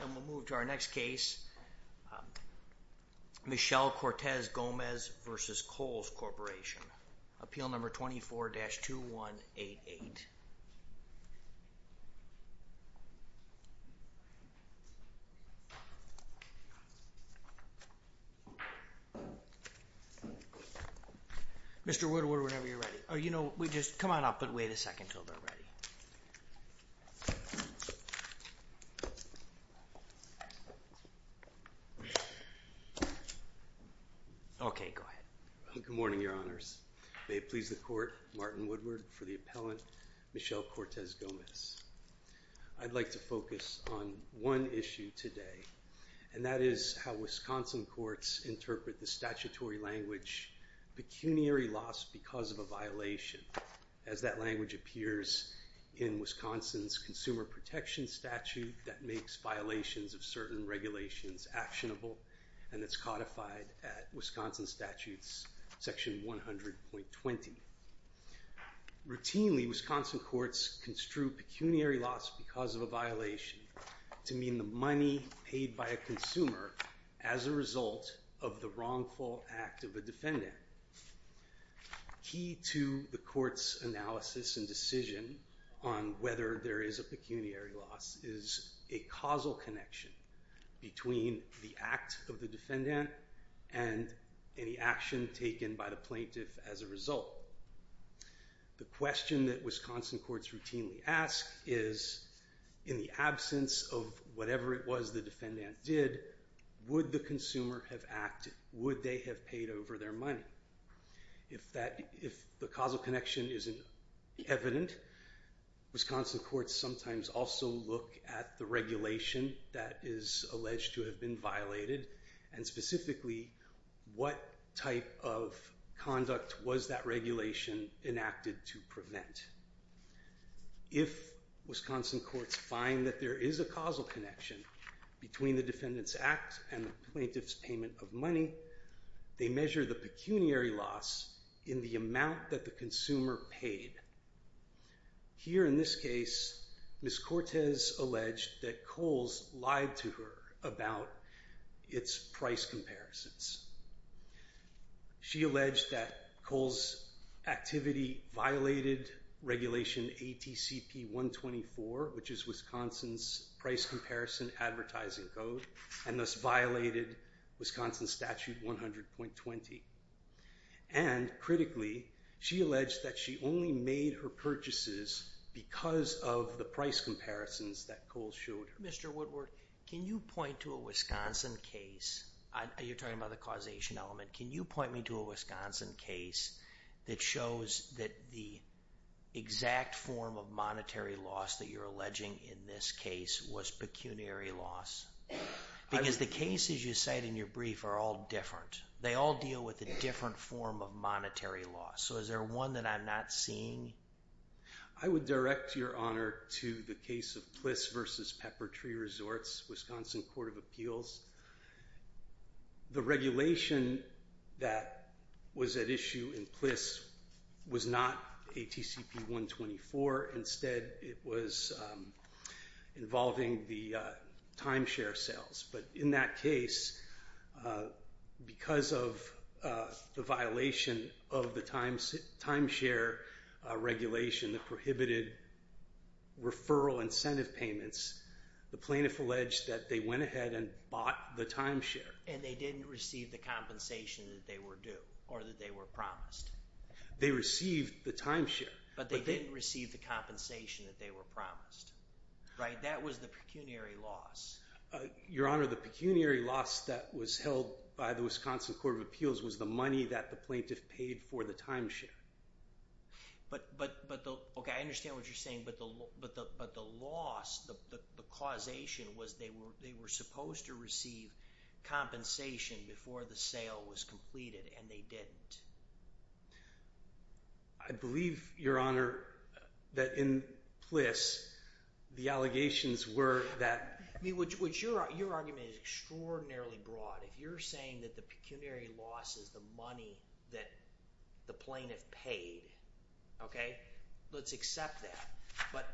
And we'll move to our next case, Michelle Cortez Gomez v. Kohl's Corporation, appeal number 24-2188. Mr. Woodward, whenever you're ready, or you know, we just, come on up and wait a second until they're ready. Okay go ahead. Good morning, your honors. May it please the court, Martin Woodward for the appellant, Michelle Cortez Gomez. I'd like to focus on one issue today, and that is how Wisconsin courts interpret the statutory language, pecuniary loss because of a violation. As that language appears in Wisconsin's consumer protection statute that makes violations of certain regulations actionable, and it's codified at Wisconsin statutes section 100.20. Routinely, Wisconsin courts construe pecuniary loss because of a violation to mean the money paid by a consumer as a result of the wrongful act of a defendant. Key to the court's analysis and decision on whether there is a pecuniary loss is a causal connection between the act of the defendant and any action taken by the plaintiff as a The question that Wisconsin courts routinely ask is, in the absence of whatever it was the defendant did, would the consumer have acted, would they have paid over their money? If the causal connection isn't evident, Wisconsin courts sometimes also look at the regulation that is alleged to have been violated, and specifically what type of conduct was that regulation enacted to prevent? If Wisconsin courts find that there is a causal connection between the defendant's act and the plaintiff's payment of money, they measure the pecuniary loss in the amount that the consumer paid. Here in this case, Ms. Cortez alleged that Coles lied to her about its price comparisons. She alleged that Coles' activity violated regulation ATCP 124, which is Wisconsin's price comparison advertising code, and thus violated Wisconsin Statute 100.20. And, critically, she alleged that she only made her purchases because of the price comparisons that Coles showed her. Mr. Woodward, can you point to a Wisconsin case, you're talking about the causation element, can you point me to a Wisconsin case that shows that the exact form of monetary loss that you're alleging in this case was pecuniary loss? Because the cases you cite in your brief are all different. They all deal with a different form of monetary loss. So is there one that I'm not seeing? I would direct your honor to the case of Pliss v. Peppertree Resorts, Wisconsin Court of Appeals. The regulation that was at issue in Pliss was not ATCP 124. Instead, it was involving the timeshare sales. But in that case, because of the violation of the timeshare regulation that prohibited referral incentive payments, the plaintiff alleged that they went ahead and bought the timeshare. And they didn't receive the compensation that they were due, or that they were promised. They received the timeshare. But they didn't receive the compensation that they were promised, right? That was the pecuniary loss. Your honor, the pecuniary loss that was held by the Wisconsin Court of Appeals was the money that the plaintiff paid for the timeshare. Okay, I understand what you're saying. But the loss, the causation, was they were supposed to receive compensation before the sale was completed, and they didn't. I believe, your honor, that in Pliss, the allegations were that Your argument is extraordinarily broad. If you're saying that the pecuniary loss is the money that the plaintiff paid, okay, let's accept that. But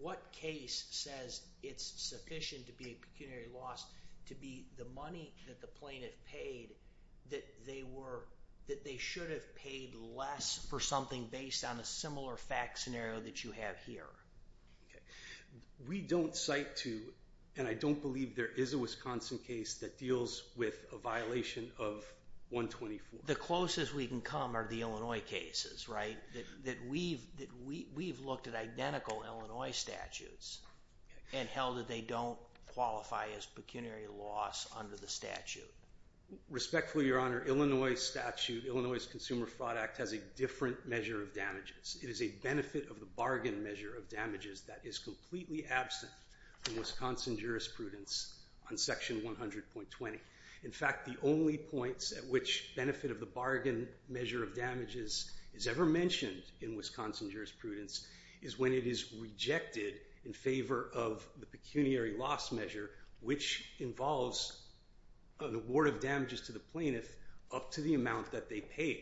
what case says it's sufficient to be a pecuniary loss to be the money that the plaintiff paid that they should have paid less for something based on a similar fact scenario that you have here? We don't cite to, and I don't believe there is a Wisconsin case that deals with a violation of 124. The closest we can come are the Illinois cases, right? That we've looked at identical Illinois statutes and held that they don't qualify as pecuniary loss under the statute. Respectfully, your honor, Illinois statute, Illinois Consumer Fraud Act, has a different measure of damages. It is a benefit-of-the-bargain measure of damages that is completely absent from Wisconsin jurisprudence on section 100.20. In fact, the only points at which benefit-of-the-bargain measure of damages is ever mentioned in Wisconsin jurisprudence is when it is rejected in favor of the pecuniary loss measure, which involves an award of damages to the plaintiff up to the amount that they paid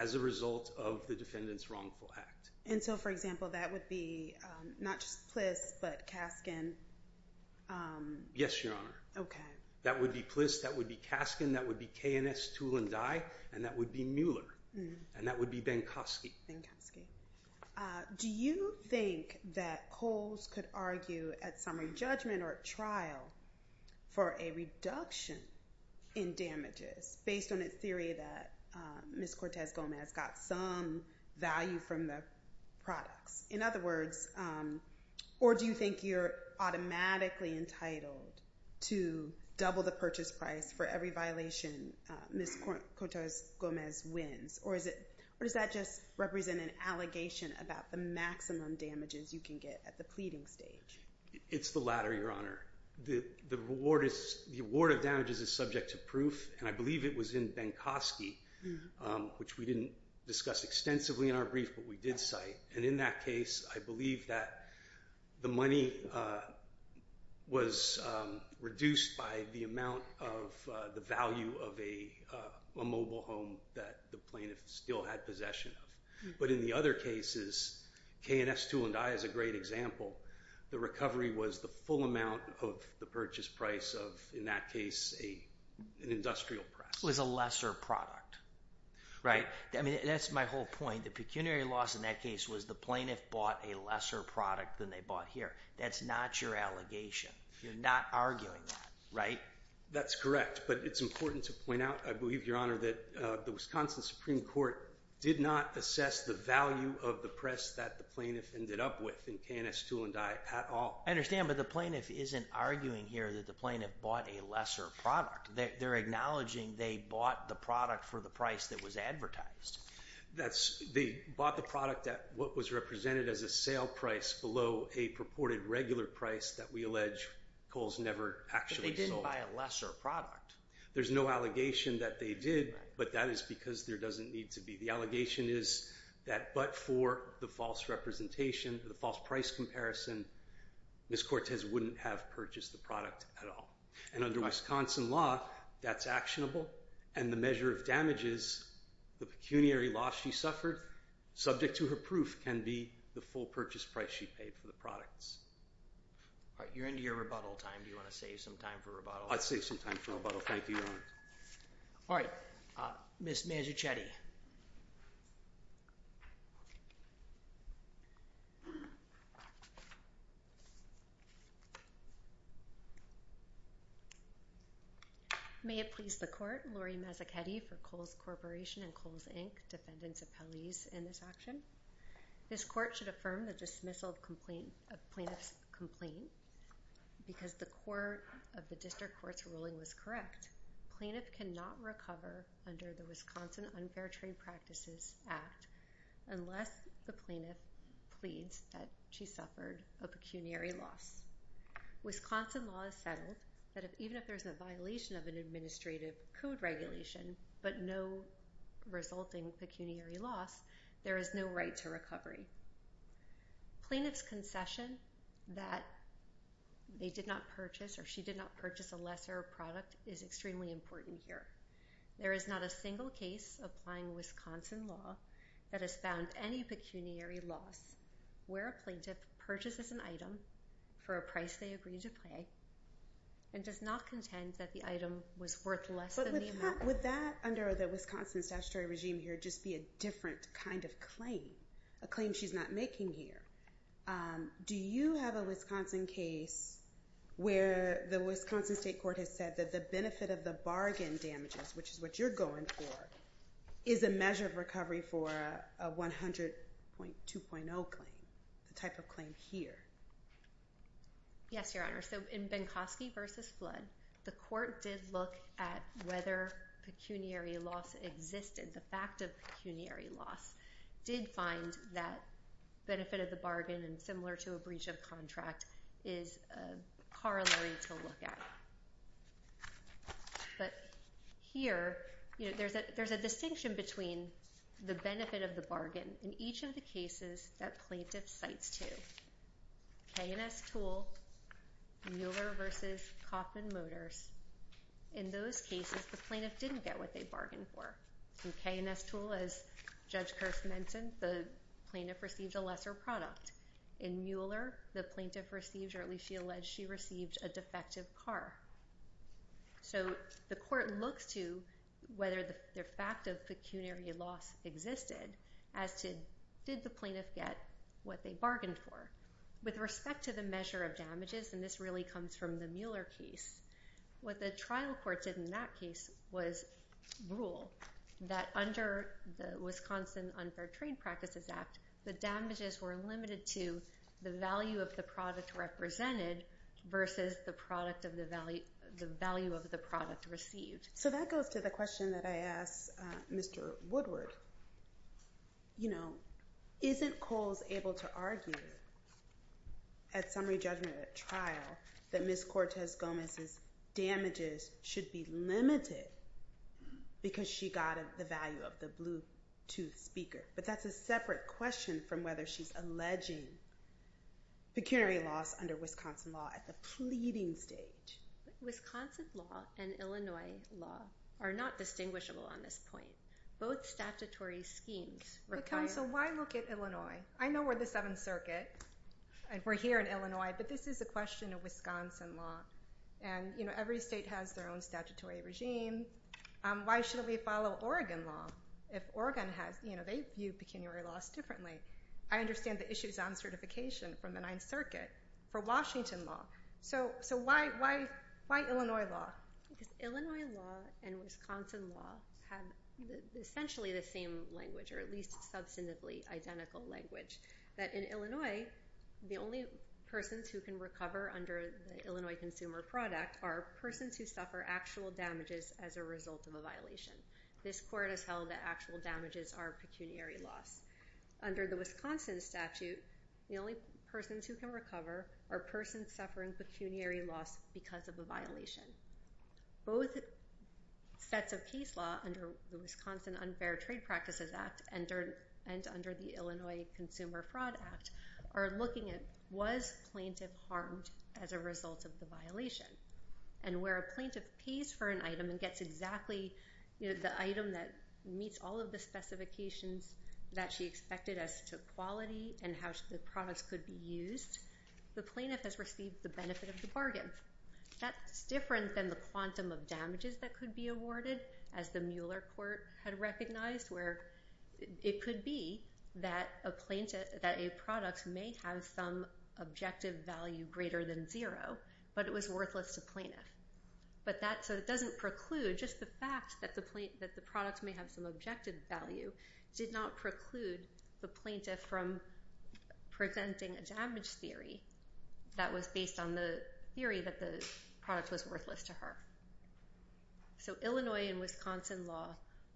as a result of the defendant's wrongful act. And so, for example, that would be not just Pliss but Kaskin? Yes, your honor. Okay. That would be Pliss, that would be Kaskin, that would be K&S, Tool & Dye, and that would be Mueller, and that would be Benkoski. Benkoski. Do you think that Coles could argue at summary judgment or at trial for a reduction in damages based on its theory that Ms. Cortez-Gomez got some value from the products? In other words, or do you think you're automatically entitled to double the purchase price for every violation Ms. Cortez-Gomez wins? Or does that just represent an allegation about the maximum damages you can get at the pleading stage? It's the latter, your honor. The award of damages is subject to proof, and I believe it was in Benkoski, which we didn't discuss extensively in our brief, but we did cite. And in that case, I believe that the money was reduced by the amount of the value of a mobile home that the plaintiff still had possession of. But in the other cases, K&S, Tool & Dye is a great example. The recovery was the full amount of the purchase price of, in that case, an industrial product. It was a lesser product. Right. That's my whole point. The pecuniary loss in that case was the plaintiff bought a lesser product than they bought here. That's not your allegation. You're not arguing that, right? That's correct, but it's important to point out, I believe, your honor, that the Wisconsin Supreme Court did not assess the value of the press that the plaintiff ended up with in K&S, Tool & Dye at all. I understand, but the plaintiff isn't arguing here that the plaintiff bought a lesser product. They're acknowledging they bought the product for the price that was advertised. They bought the product at what was represented as a sale price below a purported regular price that we allege Kohl's never actually sold. But they didn't buy a lesser product. There's no allegation that they did, but that is because there doesn't need to be. The allegation is that but for the false representation, the false price comparison, Ms. Cortez wouldn't have purchased the product at all. And under Wisconsin law, that's actionable, and the measure of damages, the pecuniary loss she suffered, subject to her proof, can be the full purchase price she paid for the products. All right, you're into your rebuttal time. Do you want to save some time for rebuttal? I'd save some time for rebuttal. Thank you, your honor. All right, Ms. Mazzuchetti. May it please the court, Lori Mazzuchetti for Kohl's Corporation and Kohl's, Inc., defendants appellees in this action. This court should affirm the dismissal of plaintiff's complaint because the court of the district court's ruling was correct. Plaintiff cannot recover under the Wisconsin Unfair Trade Practices Act unless the plaintiff pleads that she suffered a pecuniary loss. Wisconsin law has settled that even if there's a violation of an administrative code regulation but no resulting pecuniary loss, there is no right to recovery. Plaintiff's concession that they did not purchase or she did not purchase a lesser product is extremely important here. There is not a single case applying Wisconsin law that has found any pecuniary loss where a plaintiff purchases an item for a price they agreed to pay and does not contend that the item was worth less than the amount. But would that under the Wisconsin statutory regime here just be a different kind of claim, a claim she's not making here? Do you have a Wisconsin case where the Wisconsin state court has said that the benefit of the bargain damages, which is what you're going for, is a measure of recovery for a 100.2.0 claim, the type of claim here? Yes, Your Honor. So in Benkoski v. Flood, the court did look at whether pecuniary loss existed. The fact of pecuniary loss did find that benefit of the bargain and similar to a breach of contract is corollary to look at. But here there's a distinction between the benefit of the bargain in each of the cases that plaintiff cites to. K&S Tool, Mueller v. Kauffman Motors, in those cases the plaintiff didn't get what they bargained for. In K&S Tool, as Judge Kearse mentioned, the plaintiff received a lesser product. In Mueller, the plaintiff received, or at least she alleged she received, a defective car. So the court looks to whether the fact of pecuniary loss existed as to did the plaintiff get what they bargained for. With respect to the measure of damages, and this really comes from the Mueller case, what the trial court did in that case was rule that under the Wisconsin Unfair Trade Practices Act, the damages were limited to the value of the product represented versus the value of the product received. So that goes to the question that I asked Mr. Woodward. Isn't Coles able to argue at summary judgment at trial that Ms. Cortez-Gomez's damages should be limited because she got the value of the Bluetooth speaker? But that's a separate question from whether she's alleging pecuniary loss under Wisconsin law at the pleading stage. But Wisconsin law and Illinois law are not distinguishable on this point. Both statutory schemes require... But counsel, why look at Illinois? I know we're the Seventh Circuit, and we're here in Illinois, but this is a question of Wisconsin law. And every state has their own statutory regime. Why should we follow Oregon law? If Oregon has, you know, they view pecuniary loss differently. I understand the issues on certification from the Ninth Circuit for Washington law. So why Illinois law? Because Illinois law and Wisconsin law have essentially the same language, or at least substantively identical language, that in Illinois, the only persons who can recover under the Illinois consumer product are persons who suffer actual damages as a result of a violation. This court has held that actual damages are pecuniary loss. Under the Wisconsin statute, the only persons who can recover are persons suffering pecuniary loss because of a violation. Both sets of case law under the Wisconsin Unfair Trade Practices Act and under the Illinois Consumer Fraud Act are looking at was plaintiff harmed as a result of the violation. And where a plaintiff pays for an item and gets exactly the item that meets all of the specifications that she expected as to quality and how the products could be used, the plaintiff has received the benefit of the bargain. That's different than the quantum of damages that could be awarded, as the Mueller court had recognized, where it could be that a product may have some objective value greater than zero, but it was worthless to plaintiff. So it doesn't preclude, just the fact that the product may have some objective value did not preclude the plaintiff from presenting a damage theory that was based on the theory that the product was worthless to her. So Illinois and Wisconsin law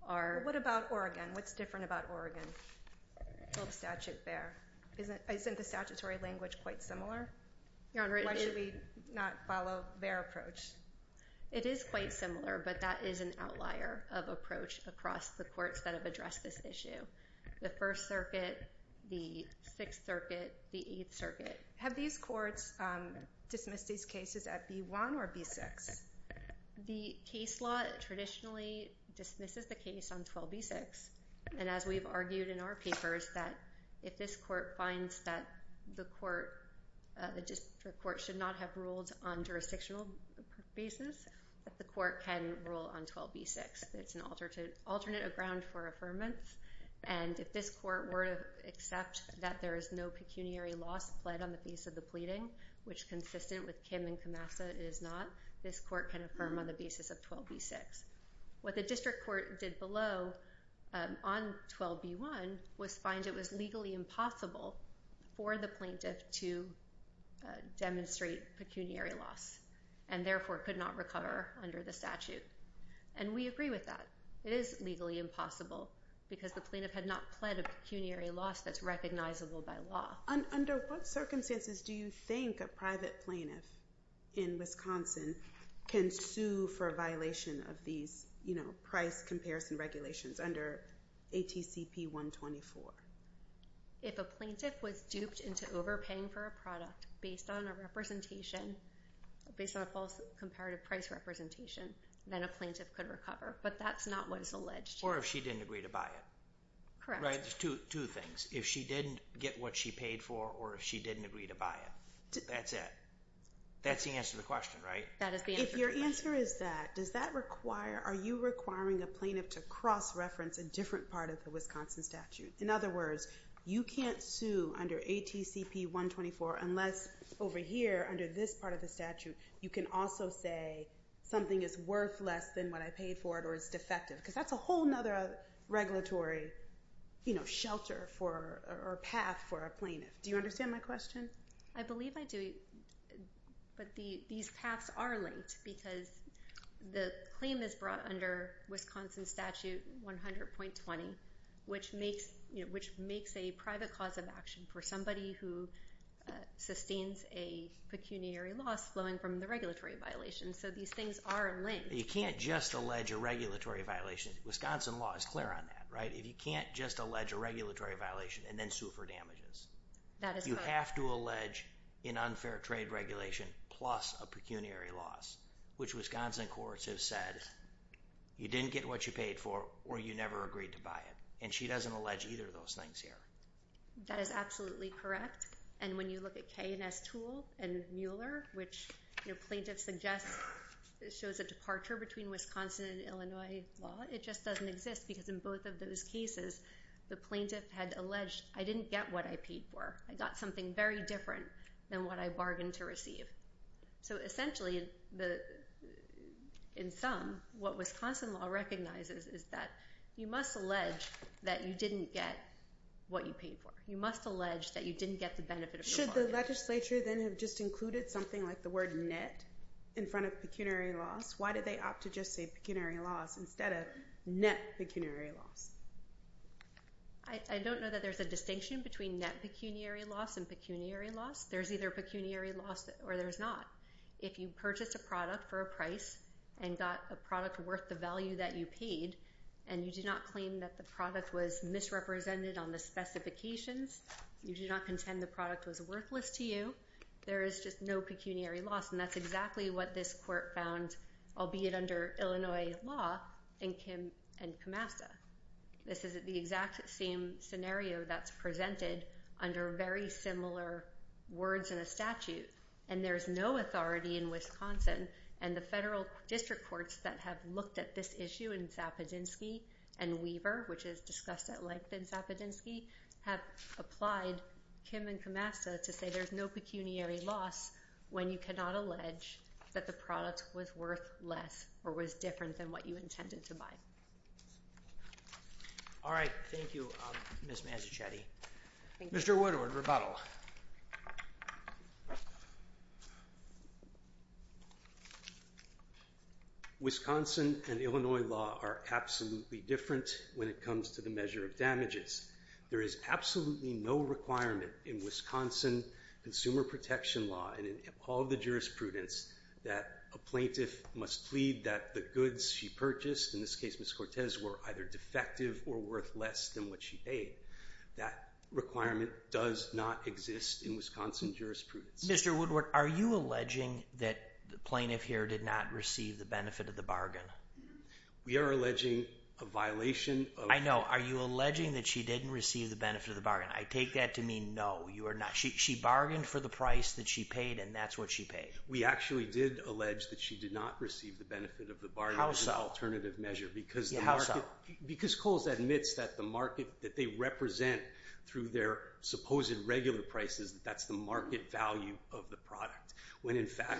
are... What about Oregon? What's different about Oregon? A little statute there. Isn't the statutory language quite similar? Why should we not follow their approach? It is quite similar, but that is an outlier of approach across the courts that have addressed this issue. The First Circuit, the Sixth Circuit, the Eighth Circuit. Have these courts dismissed these cases at B1 or B6? The case law traditionally dismisses the case on 12B6. And as we've argued in our papers, that if this court finds that the district court should not have ruled on jurisdictional basis, that the court can rule on 12B6. It's an alternative ground for affirmance. And if this court were to accept that there is no pecuniary loss pled on the basis of the pleading, which consistent with Kim and Kamasa is not, this court can affirm on the basis of 12B6. What the district court did below on 12B1 was find it was legally impossible for the plaintiff to demonstrate pecuniary loss and therefore could not recover under the statute. And we agree with that. It is legally impossible because the plaintiff had not pled a pecuniary loss that's recognizable by law. Under what circumstances do you think a private plaintiff in Wisconsin can sue for a violation of these price comparison regulations under ATCP 124? If a plaintiff was duped into overpaying for a product based on a representation, based on a false comparative price representation, then a plaintiff could recover. But that's not what is alleged. Or if she didn't agree to buy it. Correct. There's two things. If she didn't get what she paid for or if she didn't agree to buy it. That's it. That's the answer to the question, right? That is the answer to the question. If your answer is that, does that require, are you requiring a plaintiff to cross-reference a different part of the Wisconsin statute? In other words, you can't sue under ATCP 124 unless over here, under this part of the statute, you can also say something is worth less than what I paid for it or is defective. Because that's a whole other regulatory shelter or path for a plaintiff. Do you understand my question? I believe I do. But these paths are linked because the claim is brought under Wisconsin Statute 100.20, which makes a private cause of action for somebody who sustains a pecuniary loss flowing from the regulatory violation. So these things are linked. You can't just allege a regulatory violation. Wisconsin law is clear on that, right? You can't just allege a regulatory violation and then sue for damages. That is correct. You have to allege an unfair trade regulation plus a pecuniary loss, which Wisconsin courts have said you didn't get what you paid for or you never agreed to buy it. And she doesn't allege either of those things here. That is absolutely correct. And when you look at K&S Toole and Mueller, which plaintiffs suggest shows a departure between Wisconsin and Illinois law, it just doesn't exist because in both of those cases the plaintiff had alleged, I didn't get what I paid for. I got something very different than what I bargained to receive. So essentially, in sum, what Wisconsin law recognizes is that you must allege that you didn't get what you paid for. You must allege that you didn't get the benefit of the bargain. Should the legislature then have just included something like the word net in front of pecuniary loss? Why did they opt to just say pecuniary loss instead of net pecuniary loss? I don't know that there's a distinction between net pecuniary loss and pecuniary loss. There's either pecuniary loss or there's not. If you purchase a product for a price and got a product worth the value that you paid and you do not claim that the product was misrepresented on the specifications, you do not contend the product was worthless to you, there is just no pecuniary loss. And that's exactly what this court found, albeit under Illinois law, in Kim and Kamasa. This is the exact same scenario that's presented under very similar words in a statute. And there's no authority in Wisconsin. And the federal district courts that have looked at this issue in Sapodinsky and Weaver, which is discussed at length in Sapodinsky, have applied Kim and Kamasa to say there's no pecuniary loss when you cannot allege that the product was worth less or was different than what you intended to buy. All right. Thank you, Ms. Mazzuchetti. Mr. Woodward, rebuttal. Wisconsin and Illinois law are absolutely different when it comes to the measure of damages. There is absolutely no requirement in Wisconsin consumer protection law and in all the jurisprudence that a plaintiff must plead that the goods she purchased, in this case Ms. Cortez, were either defective or worth less than what she paid. That requirement does not exist in Wisconsin jurisprudence. Mr. Woodward, are you alleging that the plaintiff here did not receive the benefit of the bargain? We are alleging a violation of... I know. Are you alleging that she didn't receive the benefit of the bargain? I take that to mean no, you are not. She bargained for the price that she paid, and that's what she paid. We actually did allege that she did not receive the benefit of the bargain... How so? How so?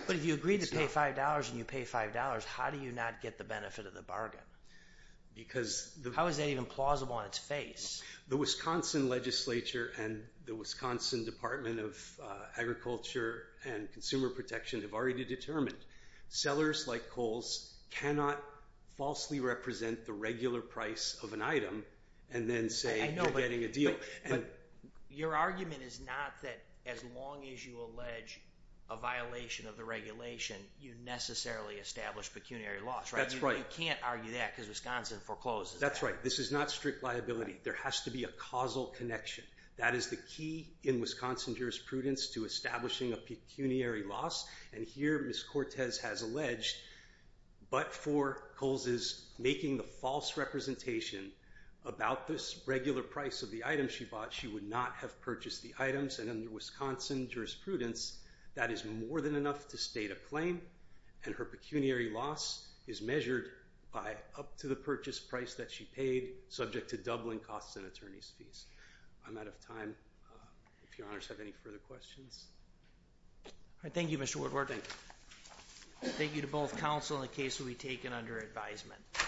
But if you agree to pay $5 and you pay $5, how do you not get the benefit of the bargain? How is that even plausible on its face? You cannot falsely represent the regular price of an item and then say you're getting a deal. Your argument is not that as long as you allege a violation of the regulation, you necessarily establish pecuniary loss, right? That's right. You can't argue that because Wisconsin forecloses that. That's right. This is not strict liability. There has to be a causal connection. That is the key in Wisconsin jurisprudence to establishing a pecuniary loss, and here Ms. Cortez has alleged, but forecloses making the false representation about this regular price of the item she bought, she would not have purchased the items, and under Wisconsin jurisprudence, that is more than enough to state a claim, and her pecuniary loss is measured by up to the purchase price that she paid, subject to doubling costs and attorney's fees. I'm out of time. If Your Honors have any further questions. Thank you, Mr. Woodward. Thank you. Thank you to both counsel and the case will be taken under advisement.